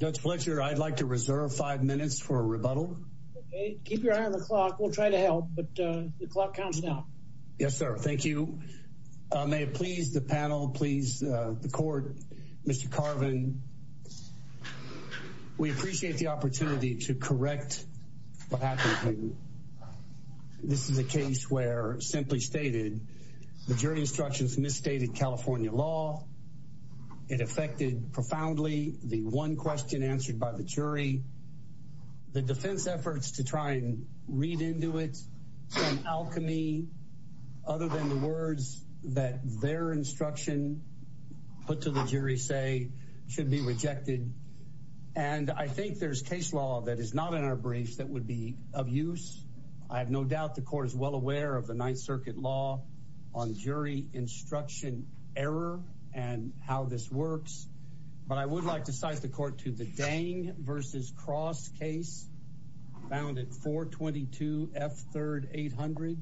Judge Fletcher, I'd like to reserve five minutes for a rebuttal. Okay, keep your eye on the clock. We'll try to help, but the clock counts now. Yes, sir. Thank you. May it please the panel, please the court, Mr. Carvin. We appreciate the opportunity to correct what happened. This is a case where, simply stated, the jury instructions misstated California law. It affected profoundly the one question answered by the jury. The defense efforts to try and read into it, some alchemy other than the words that their instruction put to the jury say should be rejected. And I think there's case law that is not in our briefs that would be of use. I have no doubt the court is well aware of the circuit law on jury instruction error and how this works. But I would like to cite the court to the Dang v. Cross case found at 422 F. Third 800.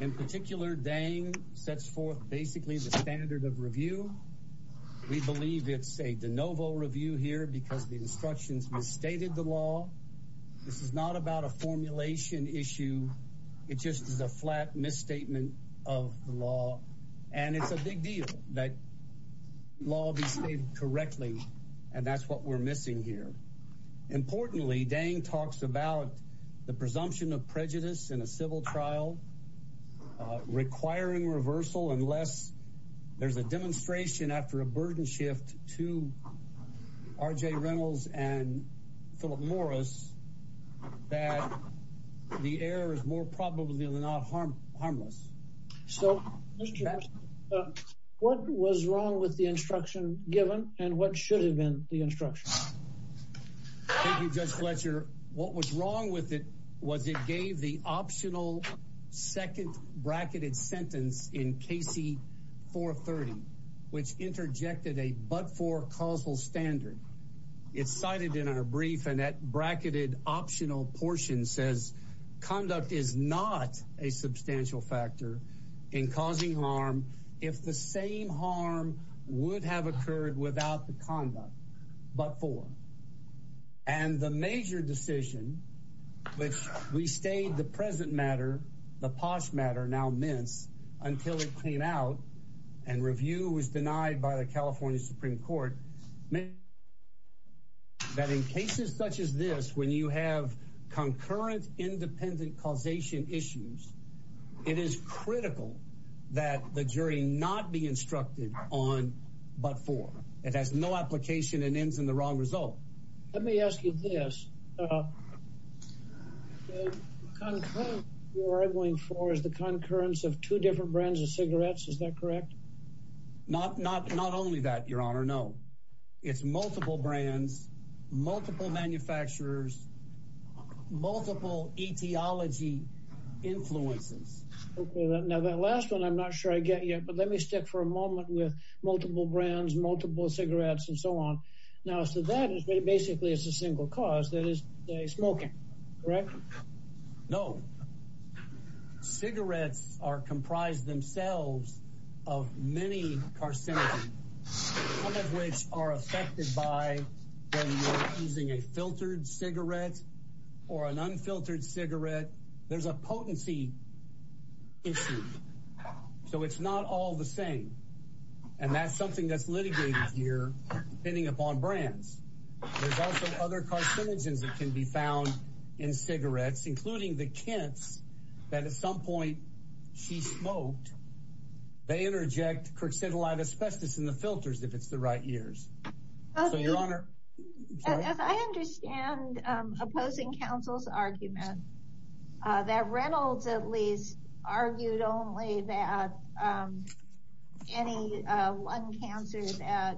In particular, Dang sets forth basically the standard of review. We believe it's a de novo review here because the instructions misstated the law. This is not about a formulation issue. It just is a flat misstatement of the law. And it's a big deal that law be stated correctly. And that's what we're missing here. Importantly, Dang talks about the presumption of prejudice in a civil trial requiring reversal unless there's a demonstration after a burden shift to R.J. Reynolds and Philip Morris that the error is more probably than not harmless. So what was wrong with the instruction given and what should have been the instruction? Thank you, Judge Fletcher. What was wrong with it was it gave the optional second bracketed sentence in Casey 430, which interjected a but for causal standard. It's cited in our brief and that bracketed optional portion says conduct is not a substantial factor in causing harm if the same harm would have occurred without the conduct but for. And the major decision, which we stayed the present matter, the posh matter now minutes until it came out and review was denied by the California Supreme Court that in cases such as this, when you have concurrent independent causation issues, it is critical that the jury not be instructed on but for it has no application and ends in the wrong result. Let me ask you this. You are going for is the concurrence of two different brands of cigarettes. Is that correct? Not not not only that, your honor. No, it's multiple brands, multiple manufacturers, multiple etiology influences. Now that last one I'm not sure I get yet, but let me stick for a moment with multiple brands, multiple cigarettes and so on. Now, so that is basically it's a single cause that is smoking, correct? No. Cigarettes are comprised themselves of many carcinogens, some of which are affected by using a filtered cigarette or an unfiltered cigarette. There's a potency issue, so it's not all the same. And that's something that's litigated here, depending upon brands. There's also other carcinogens that can be found in cigarettes, including the kents, that at some point she smoked. They interject cruxidilide asbestos in the filters if it's the right years. So your honor, as I understand, opposing counsel's argument that Reynolds at least argued only that any lung cancer that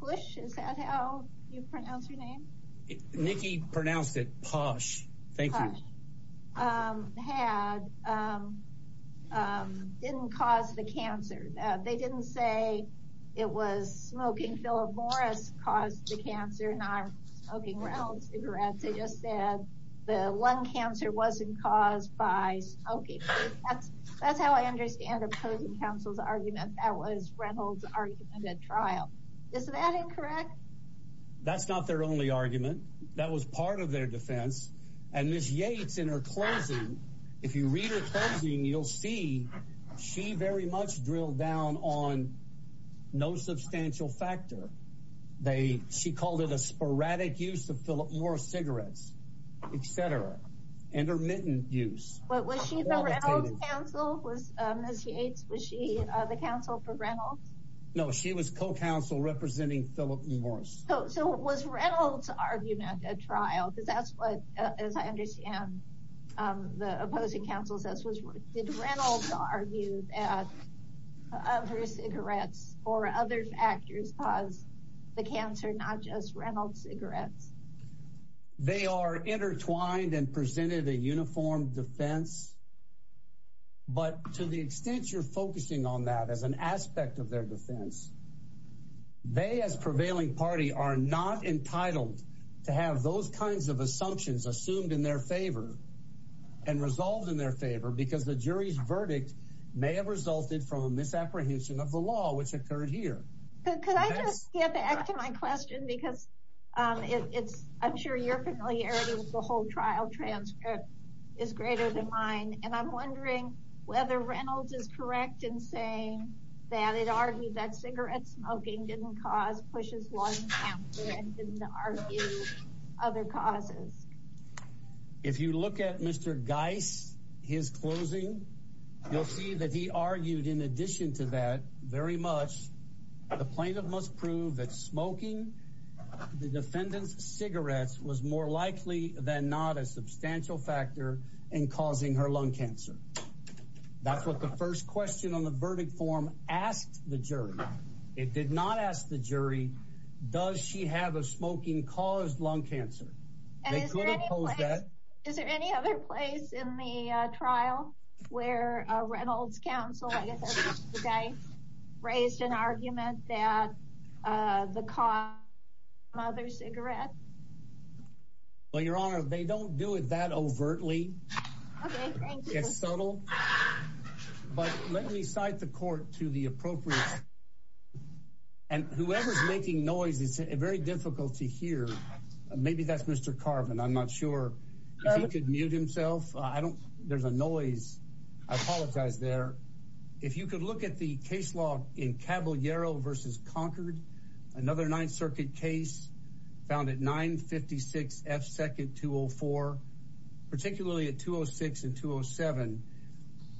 push, is that how you pronounce your name? Nikki pronounced it posh. Thank you. Had, didn't cause the cancer. They didn't say it was smoking. Philip Morris caused the cancer, not smoking Reynolds cigarettes. They just said the lung cancer wasn't caused by smoking. That's how I understand opposing counsel's argument. That was Reynolds argument at trial. Is that incorrect? That's not their only argument. That was part of their defense. And Ms. Yates in her closing, if you read her closing, you'll see she very much drilled down on no substantial factor. They, she called it a sporadic use of Philip Morris cigarettes, et cetera. Intermittent use. But was she the Reynolds counsel? Was Ms. Yates, was she the counsel for Reynolds? No, she was co-counsel representing Philip Morris. So was Reynolds argument at trial? Because that's what, as I understand, the opposing counsel says was, did Reynolds argue that her cigarettes or other factors cause the cancer, not just Reynolds cigarettes? They are intertwined and presented a uniform defense. But to the extent you're focusing on that as an aspect of their defense, they as prevailing party are not entitled to have those kinds of assumptions assumed in their favor and resolved in their favor, because the jury's verdict may have resulted from a misapprehension of the law, which occurred here. Could I just get back to my question? Because it's, I'm sure your familiarity with the whole trial transcript is greater than mine. And I'm wondering whether Reynolds is correct in saying that it argued that cigarette smoking didn't cause Push's lung cancer and didn't argue other causes. If you look at Mr. Geis, his closing, you'll see that he argued in addition to that very much, the plaintiff must prove that smoking the defendant's cigarettes was more likely than not a substantial factor in causing her lung cancer. That's what the first question on the verdict form asked the jury. It did not ask the jury, does she have a smoking caused lung cancer? Is there any other place in the trial where Reynolds counsel raised an argument that the cause of the cigarette? Well, Your Honor, they don't do it that overtly. It's subtle. But let me cite the court to the appropriate. And whoever's making noise, it's very difficult to hear. Maybe that's Mr. Carbon. I'm not there's a noise. I apologize there. If you could look at the case law in Caballero versus Concord, another Ninth Circuit case found at 956 F. Second 204, particularly at 206 and 207.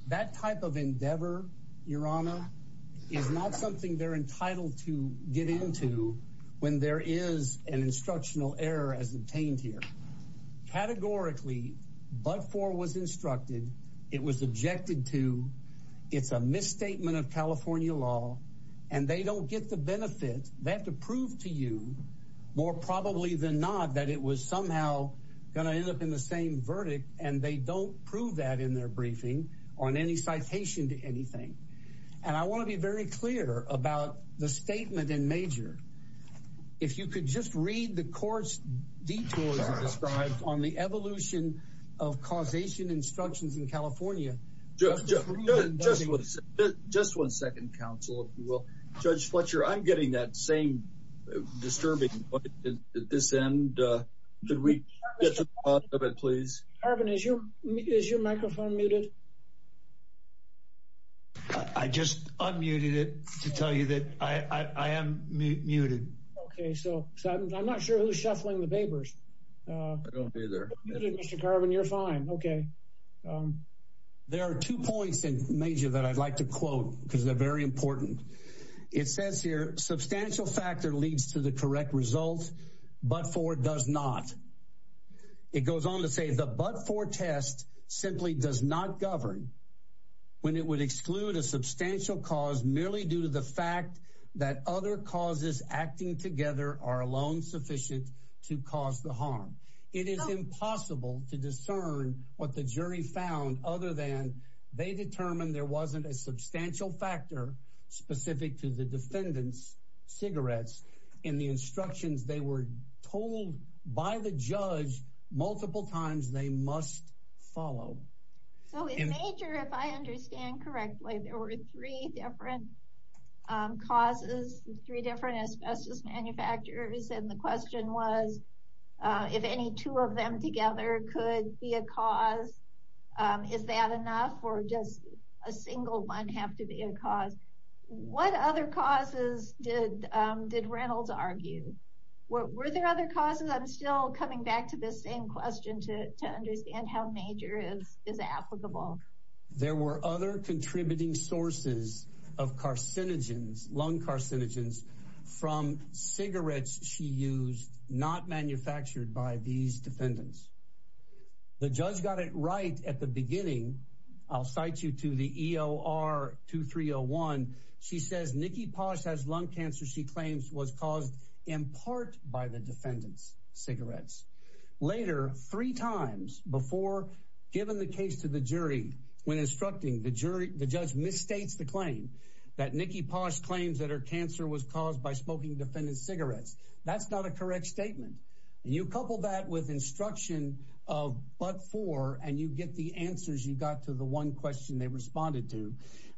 That type of endeavor, Your Honor, is not something they're entitled to get into when there is an instructional error as obtained here. Categorically, but for was instructed, it was objected to. It's a misstatement of California law, and they don't get the benefit. They have to prove to you more probably than not that it was somehow going to end up in the same verdict. And they don't prove that in their briefing on any citation to anything. And I could just read the court's detours described on the evolution of causation instructions in California. Just one second, counsel, if you will. Judge Fletcher, I'm getting that same disturbing at this end. Could we get to the bottom of it, please? Carbon, is your microphone muted? I just unmuted it to tell you that I am muted. Okay, so I'm not sure who's shuffling the papers. I don't either. Mr. Carbon, you're fine. Okay. There are two points in major that I'd like to quote because they're very important. It says here, substantial factor leads to the correct but for does not. It goes on to say the but for test simply does not govern when it would exclude a substantial cause merely due to the fact that other causes acting together are alone sufficient to cause the harm. It is impossible to discern what the jury found other than they determined there wasn't a substantial factor specific to the defendant's cigarettes and the instructions they were told by the judge multiple times they must follow. So in major, if I understand correctly, there were three different causes, three different asbestos manufacturers. And the question was, if any two of them together could be a cause, is that enough or just a single one have to be a cause? What other causes did Reynolds argue? Were there other causes? I'm still coming back to this same question to understand how major is applicable. There were other contributing sources of carcinogens, lung carcinogens, from cigarettes she used, not manufactured by these defendants. The judge got it right at the beginning. I'll cite you to the EOR 2301. She says Nikki Posh has lung cancer. She claims was caused in part by the defendant's cigarettes. Later, three times before given the case to the jury, when instructing the jury, the judge misstates the claim that Nikki Posh claims that her cancer was caused by smoking defendant's cigarettes. That's not a correct statement. You couple that with instruction of but four and you get the answers you got to the one question they responded to.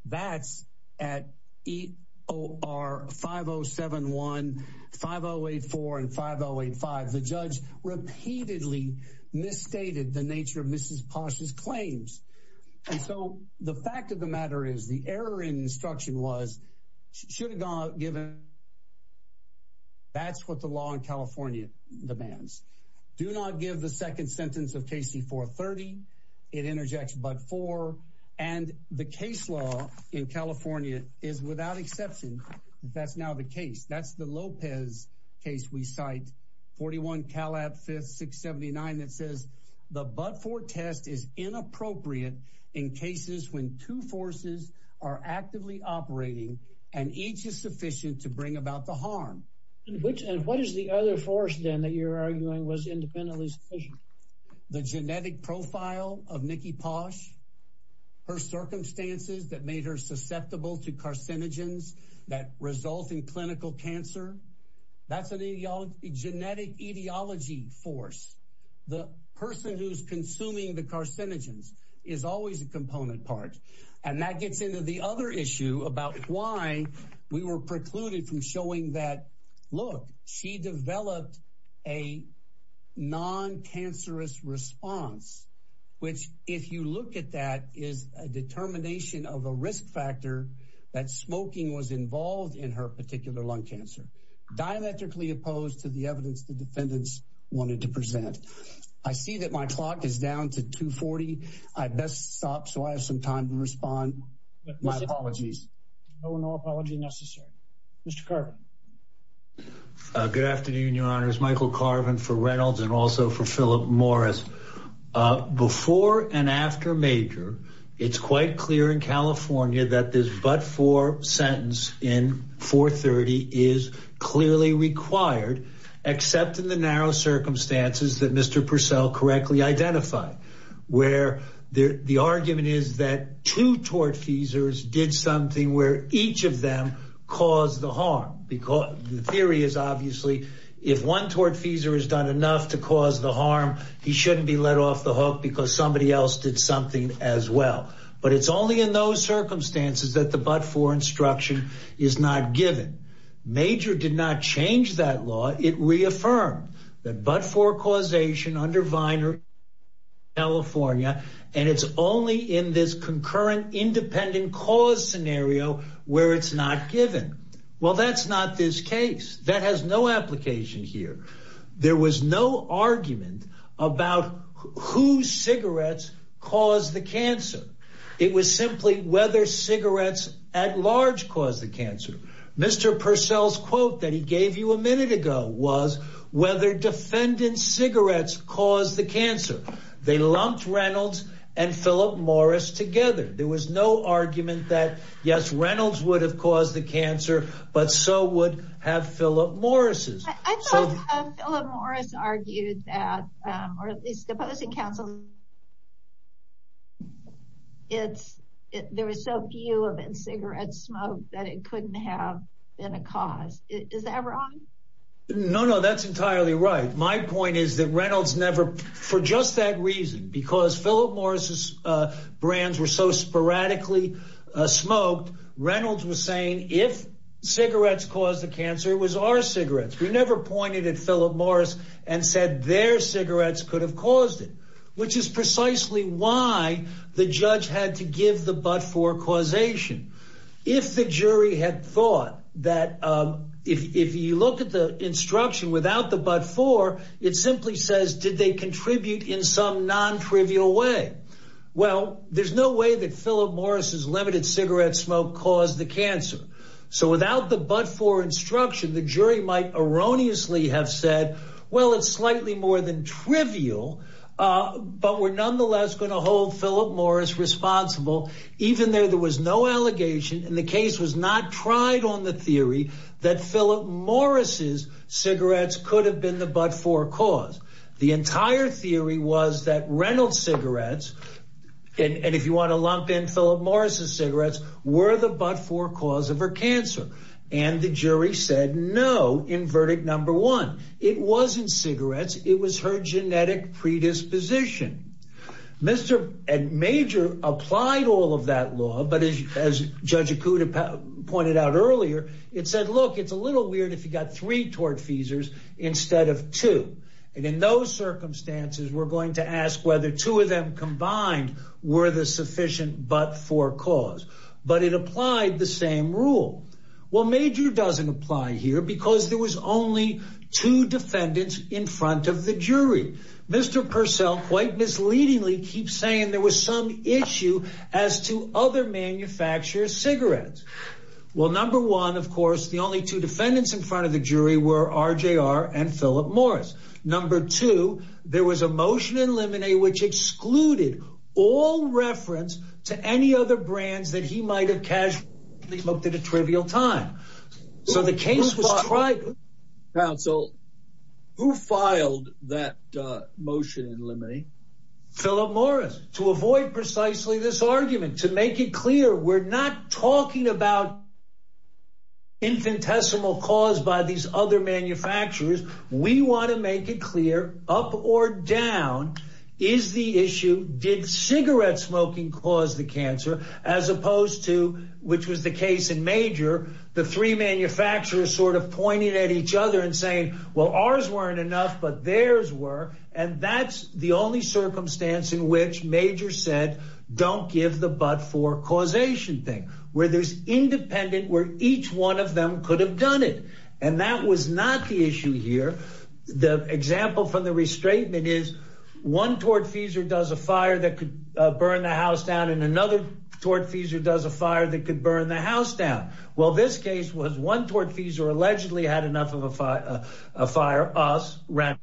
That's at EOR 5071, 5084 and 5085. The judge repeatedly misstated the nature of Mrs. Posh's claims. And so the fact of the matter is the error in instruction was should have gone given. That's what the law in California demands. Do not give the second sentence of KC 430. It interjects but four and the case law in California is without exception. That's now the case. That's the Lopez case. We cite 41 Calab 5679 that says the but for test is inappropriate in cases when two forces are actively operating and each is sufficient to bring about the harm. Which and what is the other force then that you're arguing was independently sufficient? The genetic profile of Nikki Posh. Her circumstances that made her susceptible to carcinogens that result in clinical cancer. That's an ideology genetic etiology force. The person who's consuming the carcinogens is always a component part and that gets into the other issue about why we were precluded from showing that look, she developed a non cancerous response. Which if you look at that is a determination of a risk factor that smoking was involved in her particular lung cancer. Dialectically opposed to the evidence the defendants wanted to present. I see that my clock is down to 240. I best stop so I have some time to respond with my apologies. No apology necessary. Mr. Carbon. Uh, good afternoon. Your honor is Michael Carvin for Reynolds and also for Philip Morris. Uh, before and after major, it's quite clear in California that this but for sentence in 4 30 is clearly required, except in the narrow circumstances that Mr Purcell correctly identify where the argument is that two tortfeasors did something where each of them cause the harm because the theory is obviously if one tortfeasor has done enough to cause the harm, he shouldn't be let off the hook because somebody else did something as well. But it's only in those circumstances that the but for instruction is not given. Major did not change that law. It reaffirmed that but for causation under Viner, California, and it's only in this concurrent independent cause scenario where it's not given. Well, that's not this case that has no application here. There was no argument about who cigarettes cause the cancer. It was simply whether cigarettes at large cause the cancer. Mr Purcell's quote that he gave you a minute ago was whether defendant cigarettes cause the cancer. They lumped Reynolds and Philip Morris together. There was no argument that yes, Reynolds would have caused the cancer, but so would have Philip Morrises. I thought Philip Morris argued that or at least opposing counsel. It's there was so few of in cigarette smoke that it couldn't have been a cause. Is that wrong? No, no, that's entirely right. My point is that Reynolds never for just that reason, because Philip Morris's brands were so sporadically smoked. Reynolds was saying if cigarettes cause the cancer was our cigarettes. We never pointed at Philip Morris and said their cigarettes could have caused it, which is precisely why the judge had to give the but for causation. If the jury had thought that if you look at the instruction without the but for it simply says, did they contribute in some non trivial way? Well, there's no way that Philip Morris's limited cigarette smoke caused the cancer. So without the but for instruction, the jury might erroneously have said, well, it's slightly more than trivial, but we're nonetheless going to hold Philip Morris responsible. Even though there was no allegation in the case was not tried on the theory that Philip Morris's cigarettes could have been the but for cause. The entire theory was that Reynolds cigarettes. And if you want to lump in Philip Morris's cigarettes were the but for cause of her cancer. And the jury said no. In verdict number one, it wasn't cigarettes. It was her predisposition. Mr. Major applied all of that law. But as Judge Acuda pointed out earlier, it said, look, it's a little weird if you got three tortfeasors instead of two. And in those circumstances, we're going to ask whether two of them combined were the sufficient but for cause. But it applied the same rule. Well, Major doesn't apply here because there was only two defendants in front of the jury. Mr. Purcell quite misleadingly keeps saying there was some issue as to other manufacturers cigarettes. Well, number one, of course, the only two defendants in front of the jury were R.J.R. and Philip Morris. Number two, there was a motion in Lemonade which excluded all reference to any other brands that he might have casually smoked at a trivial time. So the case was tried. Who filed that motion in Lemonade? Philip Morris. To avoid precisely this argument, to make it clear, we're not talking about infinitesimal cause by these other manufacturers. We want to make it clear up or down is the issue. Did cigarette smoking cause the cancer as opposed to which was the case in Major? The three manufacturers sort of pointed at each other and saying, well, ours weren't enough, but theirs were. And that's the only circumstance in which Major said, don't give the but for causation thing where there's independent, where each one of them could have done it. And that was not the issue here. The example from the restatement is one tortfeasor does a fire that could burn the house down and another tortfeasor does a fire that could burn the house down. Well, this case was one tortfeasor allegedly had enough of a fire, a fire, us. The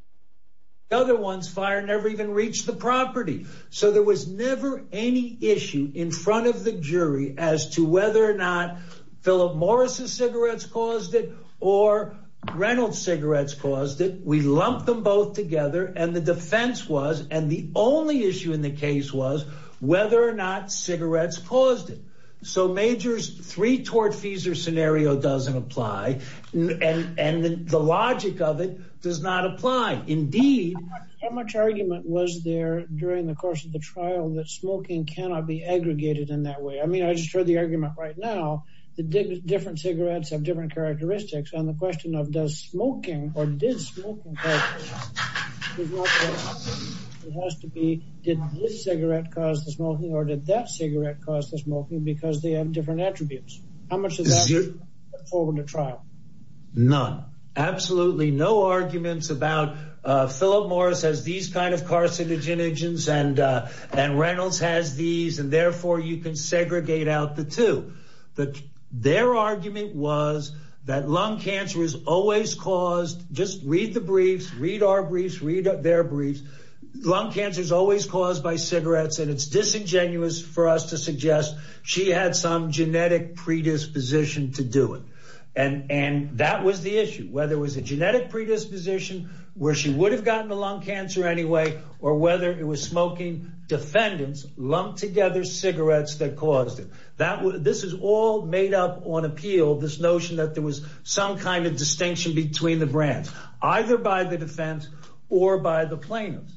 other ones fire never even reached the property. So there was never any issue in front of the jury as to whether or not Philip Morris's cigarettes caused it or Reynolds cigarettes caused it. We lumped them both together and the defense was and the only issue in the case was whether or not cigarettes caused it. So Major's three tortfeasor scenario doesn't apply. And the logic of it does not apply. Indeed, how much argument was there during the course of the trial that smoking cannot be aggregated in that way? I mean, I just heard the argument right now that different cigarettes have different characteristics on the question of does smoking or did smoking. It has to be did this cigarette cause the smoking or did that cigarette cause the smoking because they have different attributes? How much is it forward to trial? None. Absolutely no arguments about Philip Morris as these kind of carcinogens and and Reynolds has these and therefore you can that lung cancer is always caused. Just read the briefs. Read our briefs. Read their briefs. Lung cancer is always caused by cigarettes. And it's disingenuous for us to suggest she had some genetic predisposition to do it. And and that was the issue, whether it was a genetic predisposition where she would have gotten the lung cancer anyway, or whether it was smoking defendants lumped together cigarettes that caused it. That this is all made up on appeal. This notion that there was some kind of distinction between the brands, either by the defense or by the plaintiffs.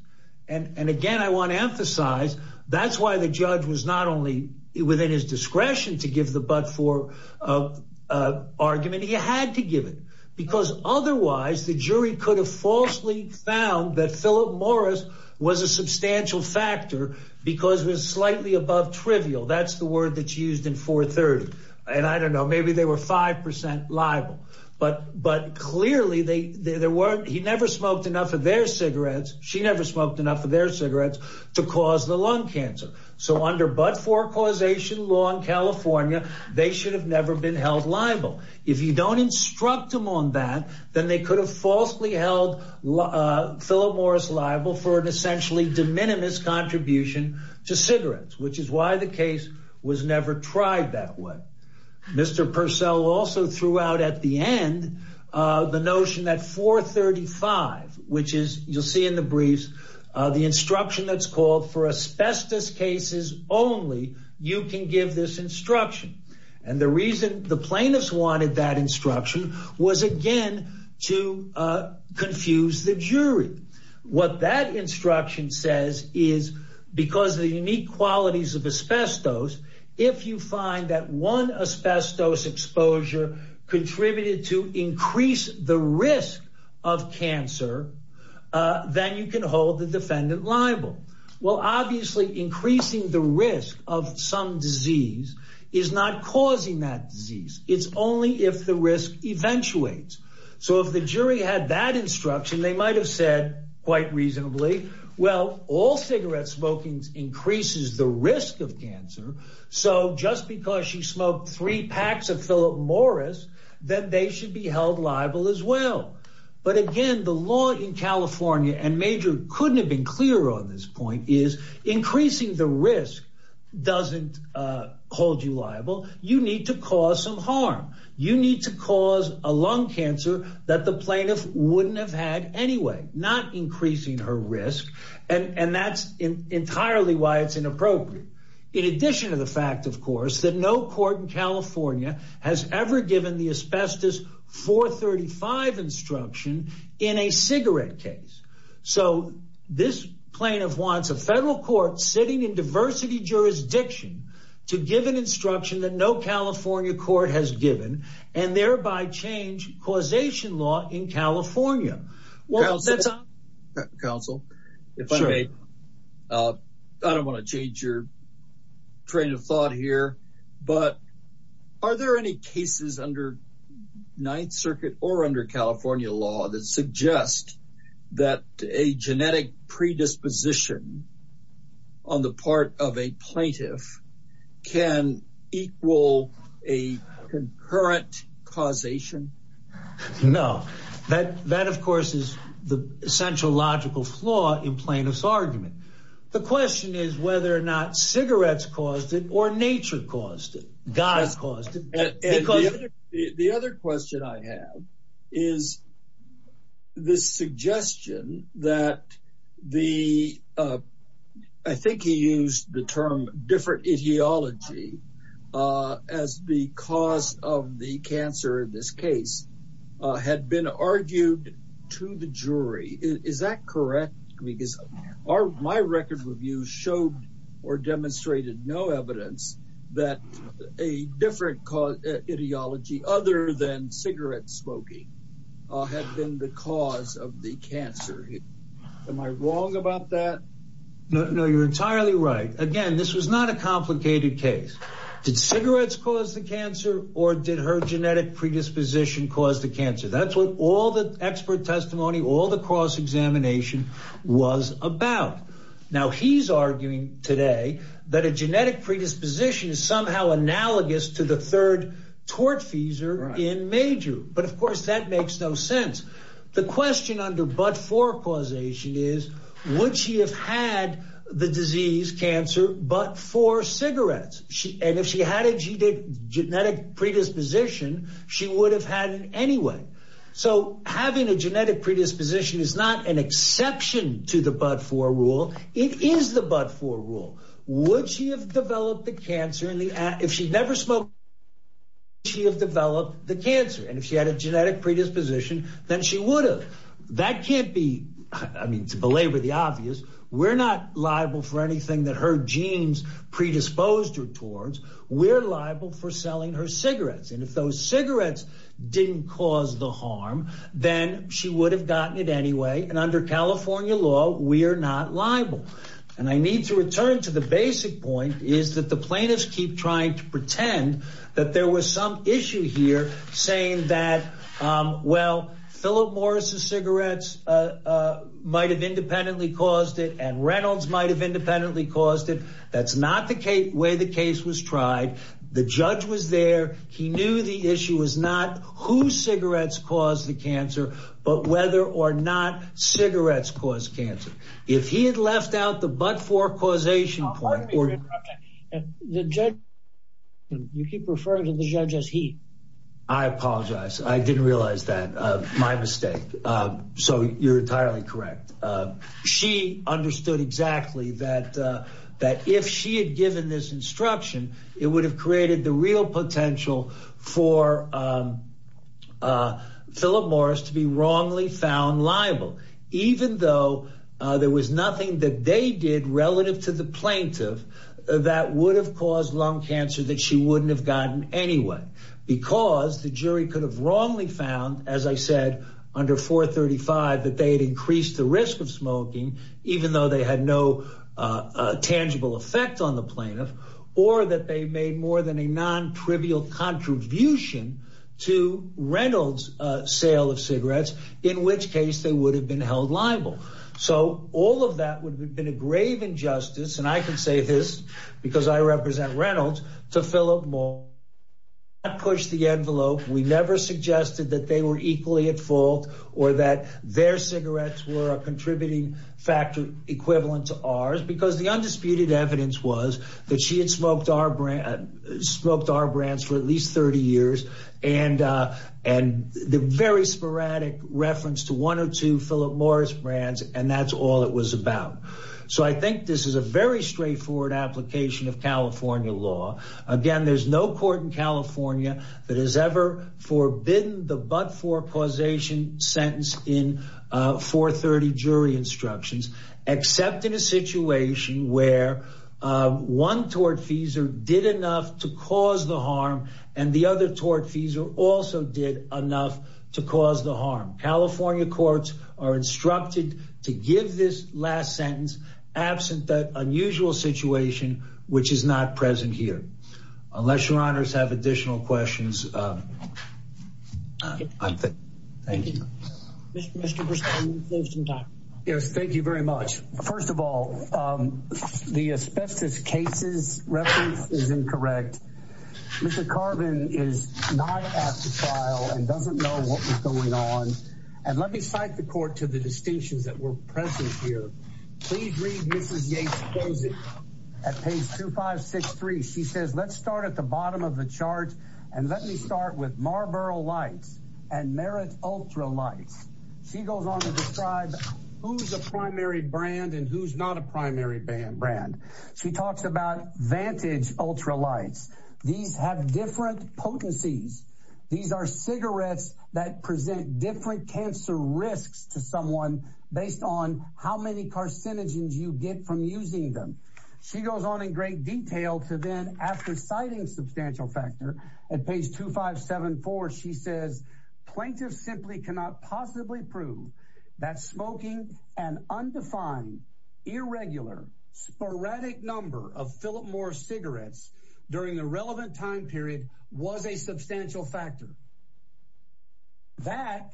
And again, I want to emphasize that's why the judge was not only within his discretion to give the but for argument. He had to give it because otherwise the jury could have falsely found that Philip Morris was a substantial factor because it was slightly above trivial. That's the word that's used in 430. And I don't know, maybe they were 5% liable, but but clearly they there weren't. He never smoked enough of their cigarettes. She never smoked enough of their cigarettes to cause the lung cancer. So under but for causation law in California, they should have never been held liable. If you don't instruct them on that, then they could have falsely held Philip Morris liable for an essentially de minimis contribution to cigarettes, which is why the case was never tried that way. Mr. Purcell also threw out at the end, the notion that 435, which is you'll see in the briefs, the instruction that's called for asbestos cases only, you can give this instruction. And the reason the plaintiffs wanted that qualities of asbestos, if you find that one asbestos exposure contributed to increase the risk of cancer, then you can hold the defendant liable. Well, obviously, increasing the risk of some disease is not causing that disease. It's only if the risk eventuates. So if the jury had that instruction, they might have said quite reasonably, well, all cigarette smoking increases the risk of cancer. So just because she smoked three packs of Philip Morris, then they should be held liable as well. But again, the law in California and major couldn't have been clear on this point is increasing the risk doesn't hold you liable, you need to cause some harm, you need to a lung cancer that the plaintiff wouldn't have had anyway, not increasing her risk. And that's entirely why it's inappropriate. In addition to the fact, of course, that no court in California has ever given the asbestos 435 instruction in a cigarette case. So this plaintiff wants a federal court sitting in diversity jurisdiction to give an instruction that no California court has given, and thereby change causation law in California. Well, that's a council. I don't want to change your train of thought here. But are there any cases under Ninth Circuit or under California law that suggest that a genetic predisposition on the part of a plaintiff can equal a concurrent causation? No, that that of course, is the central logical flaw in plaintiff's argument. The question is whether or not cigarettes caused it or nature caused it. God's caused it. And the other question I have is this suggestion that the I think he used the term different etiology as the cause of the cancer in this case, had been argued to the jury. Is that correct? Because our my record review showed or demonstrated no evidence that a different cause ideology other than cigarette smoking had been the cause of the am I wrong about that? No, you're entirely right. Again, this was not a complicated case. Did cigarettes cause the cancer? Or did her genetic predisposition cause the cancer? That's what all the expert testimony all the cross examination was about. Now he's arguing today that a genetic predisposition is somehow analogous to the third tortfeasor in major. But of course, that makes no sense. The question under but for causation is, would she have had the disease cancer but for cigarettes? And if she had a genetic predisposition, she would have had it anyway. So having a genetic predisposition is not an exception to the but for rule. It is the but for rule. Would she have developed the cancer in the act if she'd never smoked? She have developed the cancer. And if she had a genetic predisposition, then she would have. That can't be I mean, to belabor the obvious. We're not liable for anything that her genes predisposed her towards. We're liable for selling her cigarettes. And if those cigarettes didn't cause the harm, then she would have gotten it anyway. And under California law, we are not liable. And I need to return to the basic point is that the plaintiffs keep trying to pretend that there was some issue here saying that, well, Philip Morris's cigarettes might have independently caused it and Reynolds might have independently caused it. That's not the way the case was tried. The judge was there. He knew the issue was not whose cigarettes caused the cancer, but whether or not cigarettes cause cancer. If he had left out the but for causation point, you keep referring to the judge as he. I apologize. I didn't realize that my mistake. So you're entirely correct. She understood exactly that that if she had given this instruction, it would have created the real potential for Philip Morris to be wrongly found liable, even though there was nothing that they did relative to the plaintiff that would have caused lung cancer that she wouldn't have gotten anyway, because the jury could have wrongly found, as I said, under 435, that they had increased the risk of smoking, even though they had no tangible effect on the plaintiff, or that they made more than a non trivial contribution to Reynolds sale of cigarettes, in which case they would have been held liable. So all of that would have been a grave injustice. And I can say this because I represent Reynolds to fill up more push the envelope. We never suggested that they were equally at fault or that their cigarettes were a contributing factor equivalent to ours, because the undisputed evidence was that she had smoked our brand, spoke to our brands for at least 30 years. And, and the very sporadic reference to one or two Philip Morris brands, and that's all it was about. So I think this is a very straightforward application of California law. Again, there's no court in California that has ever forbidden the but for causation sentence in 430 jury instructions, except in a situation where one tortfeasor did enough to cause the harm. And the other tortfeasor also did enough to cause the harm. California courts are instructed to give this last sentence absent that unusual situation, which is not present here. Unless your honors have additional questions. Thank you. Yes, thank you very much. First of all, the asbestos cases reference is incorrect. Mr. Carvin is not at the trial and doesn't know what was going on. And let me cite the court to the distinctions that were present here. Please read Mrs. Yates closing at page 2563. She says, let's start at the bottom of the chart. And let me start with Marlboro lights and merit ultra lights. She goes on to describe who's a primary brand and who's not a primary band brand. She talks about vantage ultra lights. These have different potencies. These are cigarettes that present different cancer risks to someone based on how many carcinogens you get from using them. She goes on in great detail to then after citing substantial factor at page 2574. She says, plaintiff simply cannot possibly prove that smoking and undefined irregular sporadic number of Philip Morris cigarettes during the relevant time period was a substantial factor. That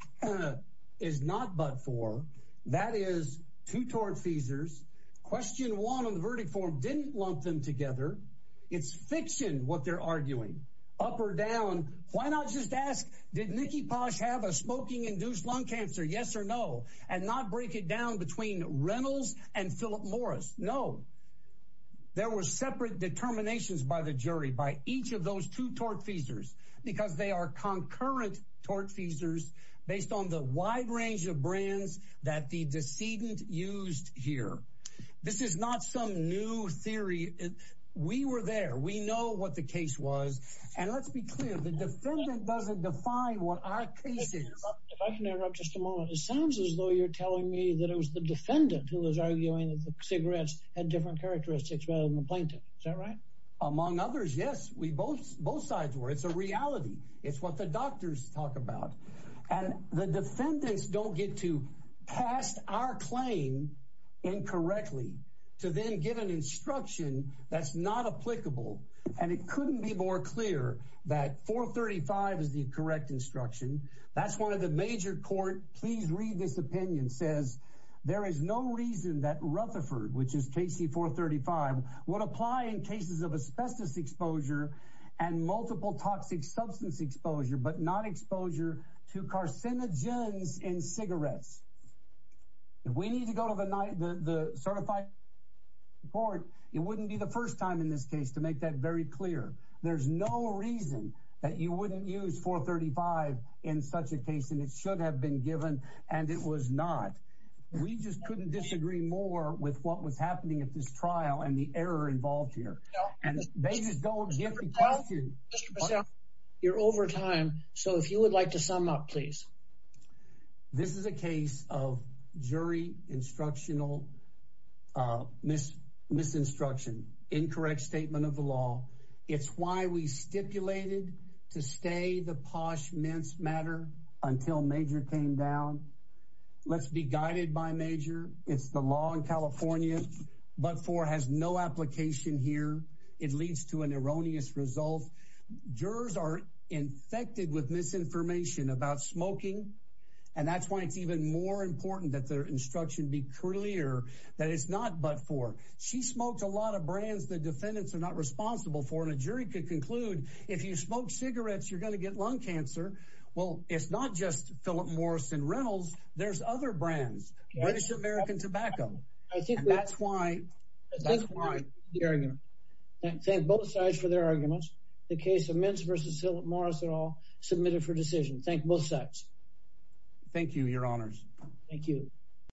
is not but for that is two tort feasors. Question one of the verdict form didn't lump them together. It's fiction what they're arguing up or down. Why not just ask, did Nikki Posh have a smoking induced lung cancer? Yes or no. And not break it down between Reynolds and Philip Morris. No, there were separate determinations by the jury by each of those two tort feasors because they are concurrent tort feasors based on the wide range of brands that the decedent used here. This is not some new theory. We were there. We know what the case was. And let's be clear, the defendant doesn't define what our case is. If I can interrupt just a moment, it sounds as though you're telling me that it was the defendant who was arguing that the cigarettes had different characteristics rather than the reality. It's what the doctors talk about. And the defendants don't get to cast our claim incorrectly to then give an instruction that's not applicable. And it couldn't be more clear that 435 is the correct instruction. That's one of the major court. Please read this opinion says there is no reason that Rutherford, which is Casey 435, would apply in cases of asbestos exposure and multiple toxic substance exposure, but not exposure to carcinogens in cigarettes. If we need to go to the night, the certified court, it wouldn't be the first time in this case to make that very clear. There's no reason that you wouldn't use 435 in such a case, and it should have been given. And it was not. We just couldn't disagree more with what was said. You're over time, so if you would like to sum up, please. This is a case of jury instructional misinstruction, incorrect statement of the law. It's why we stipulated to stay the posh mince matter until major came down. Let's be guided by major. It's the law in California, but four has no application here. It leads to an erroneous result. Jurors are infected with misinformation about smoking, and that's why it's even more important that their instruction be clear that it's not but for she smoked a lot of brands. The defendants are not responsible for a jury could conclude if you smoke cigarettes, you're going to get lung cancer. Well, it's not just Philip Morrison Reynolds. There's other brands. What is American tobacco? I think that's why that's why thank both sides for their arguments. The case of men's versus Morris at all submitted for decision. Thank both sides. Thank you. Your honors. Thank you.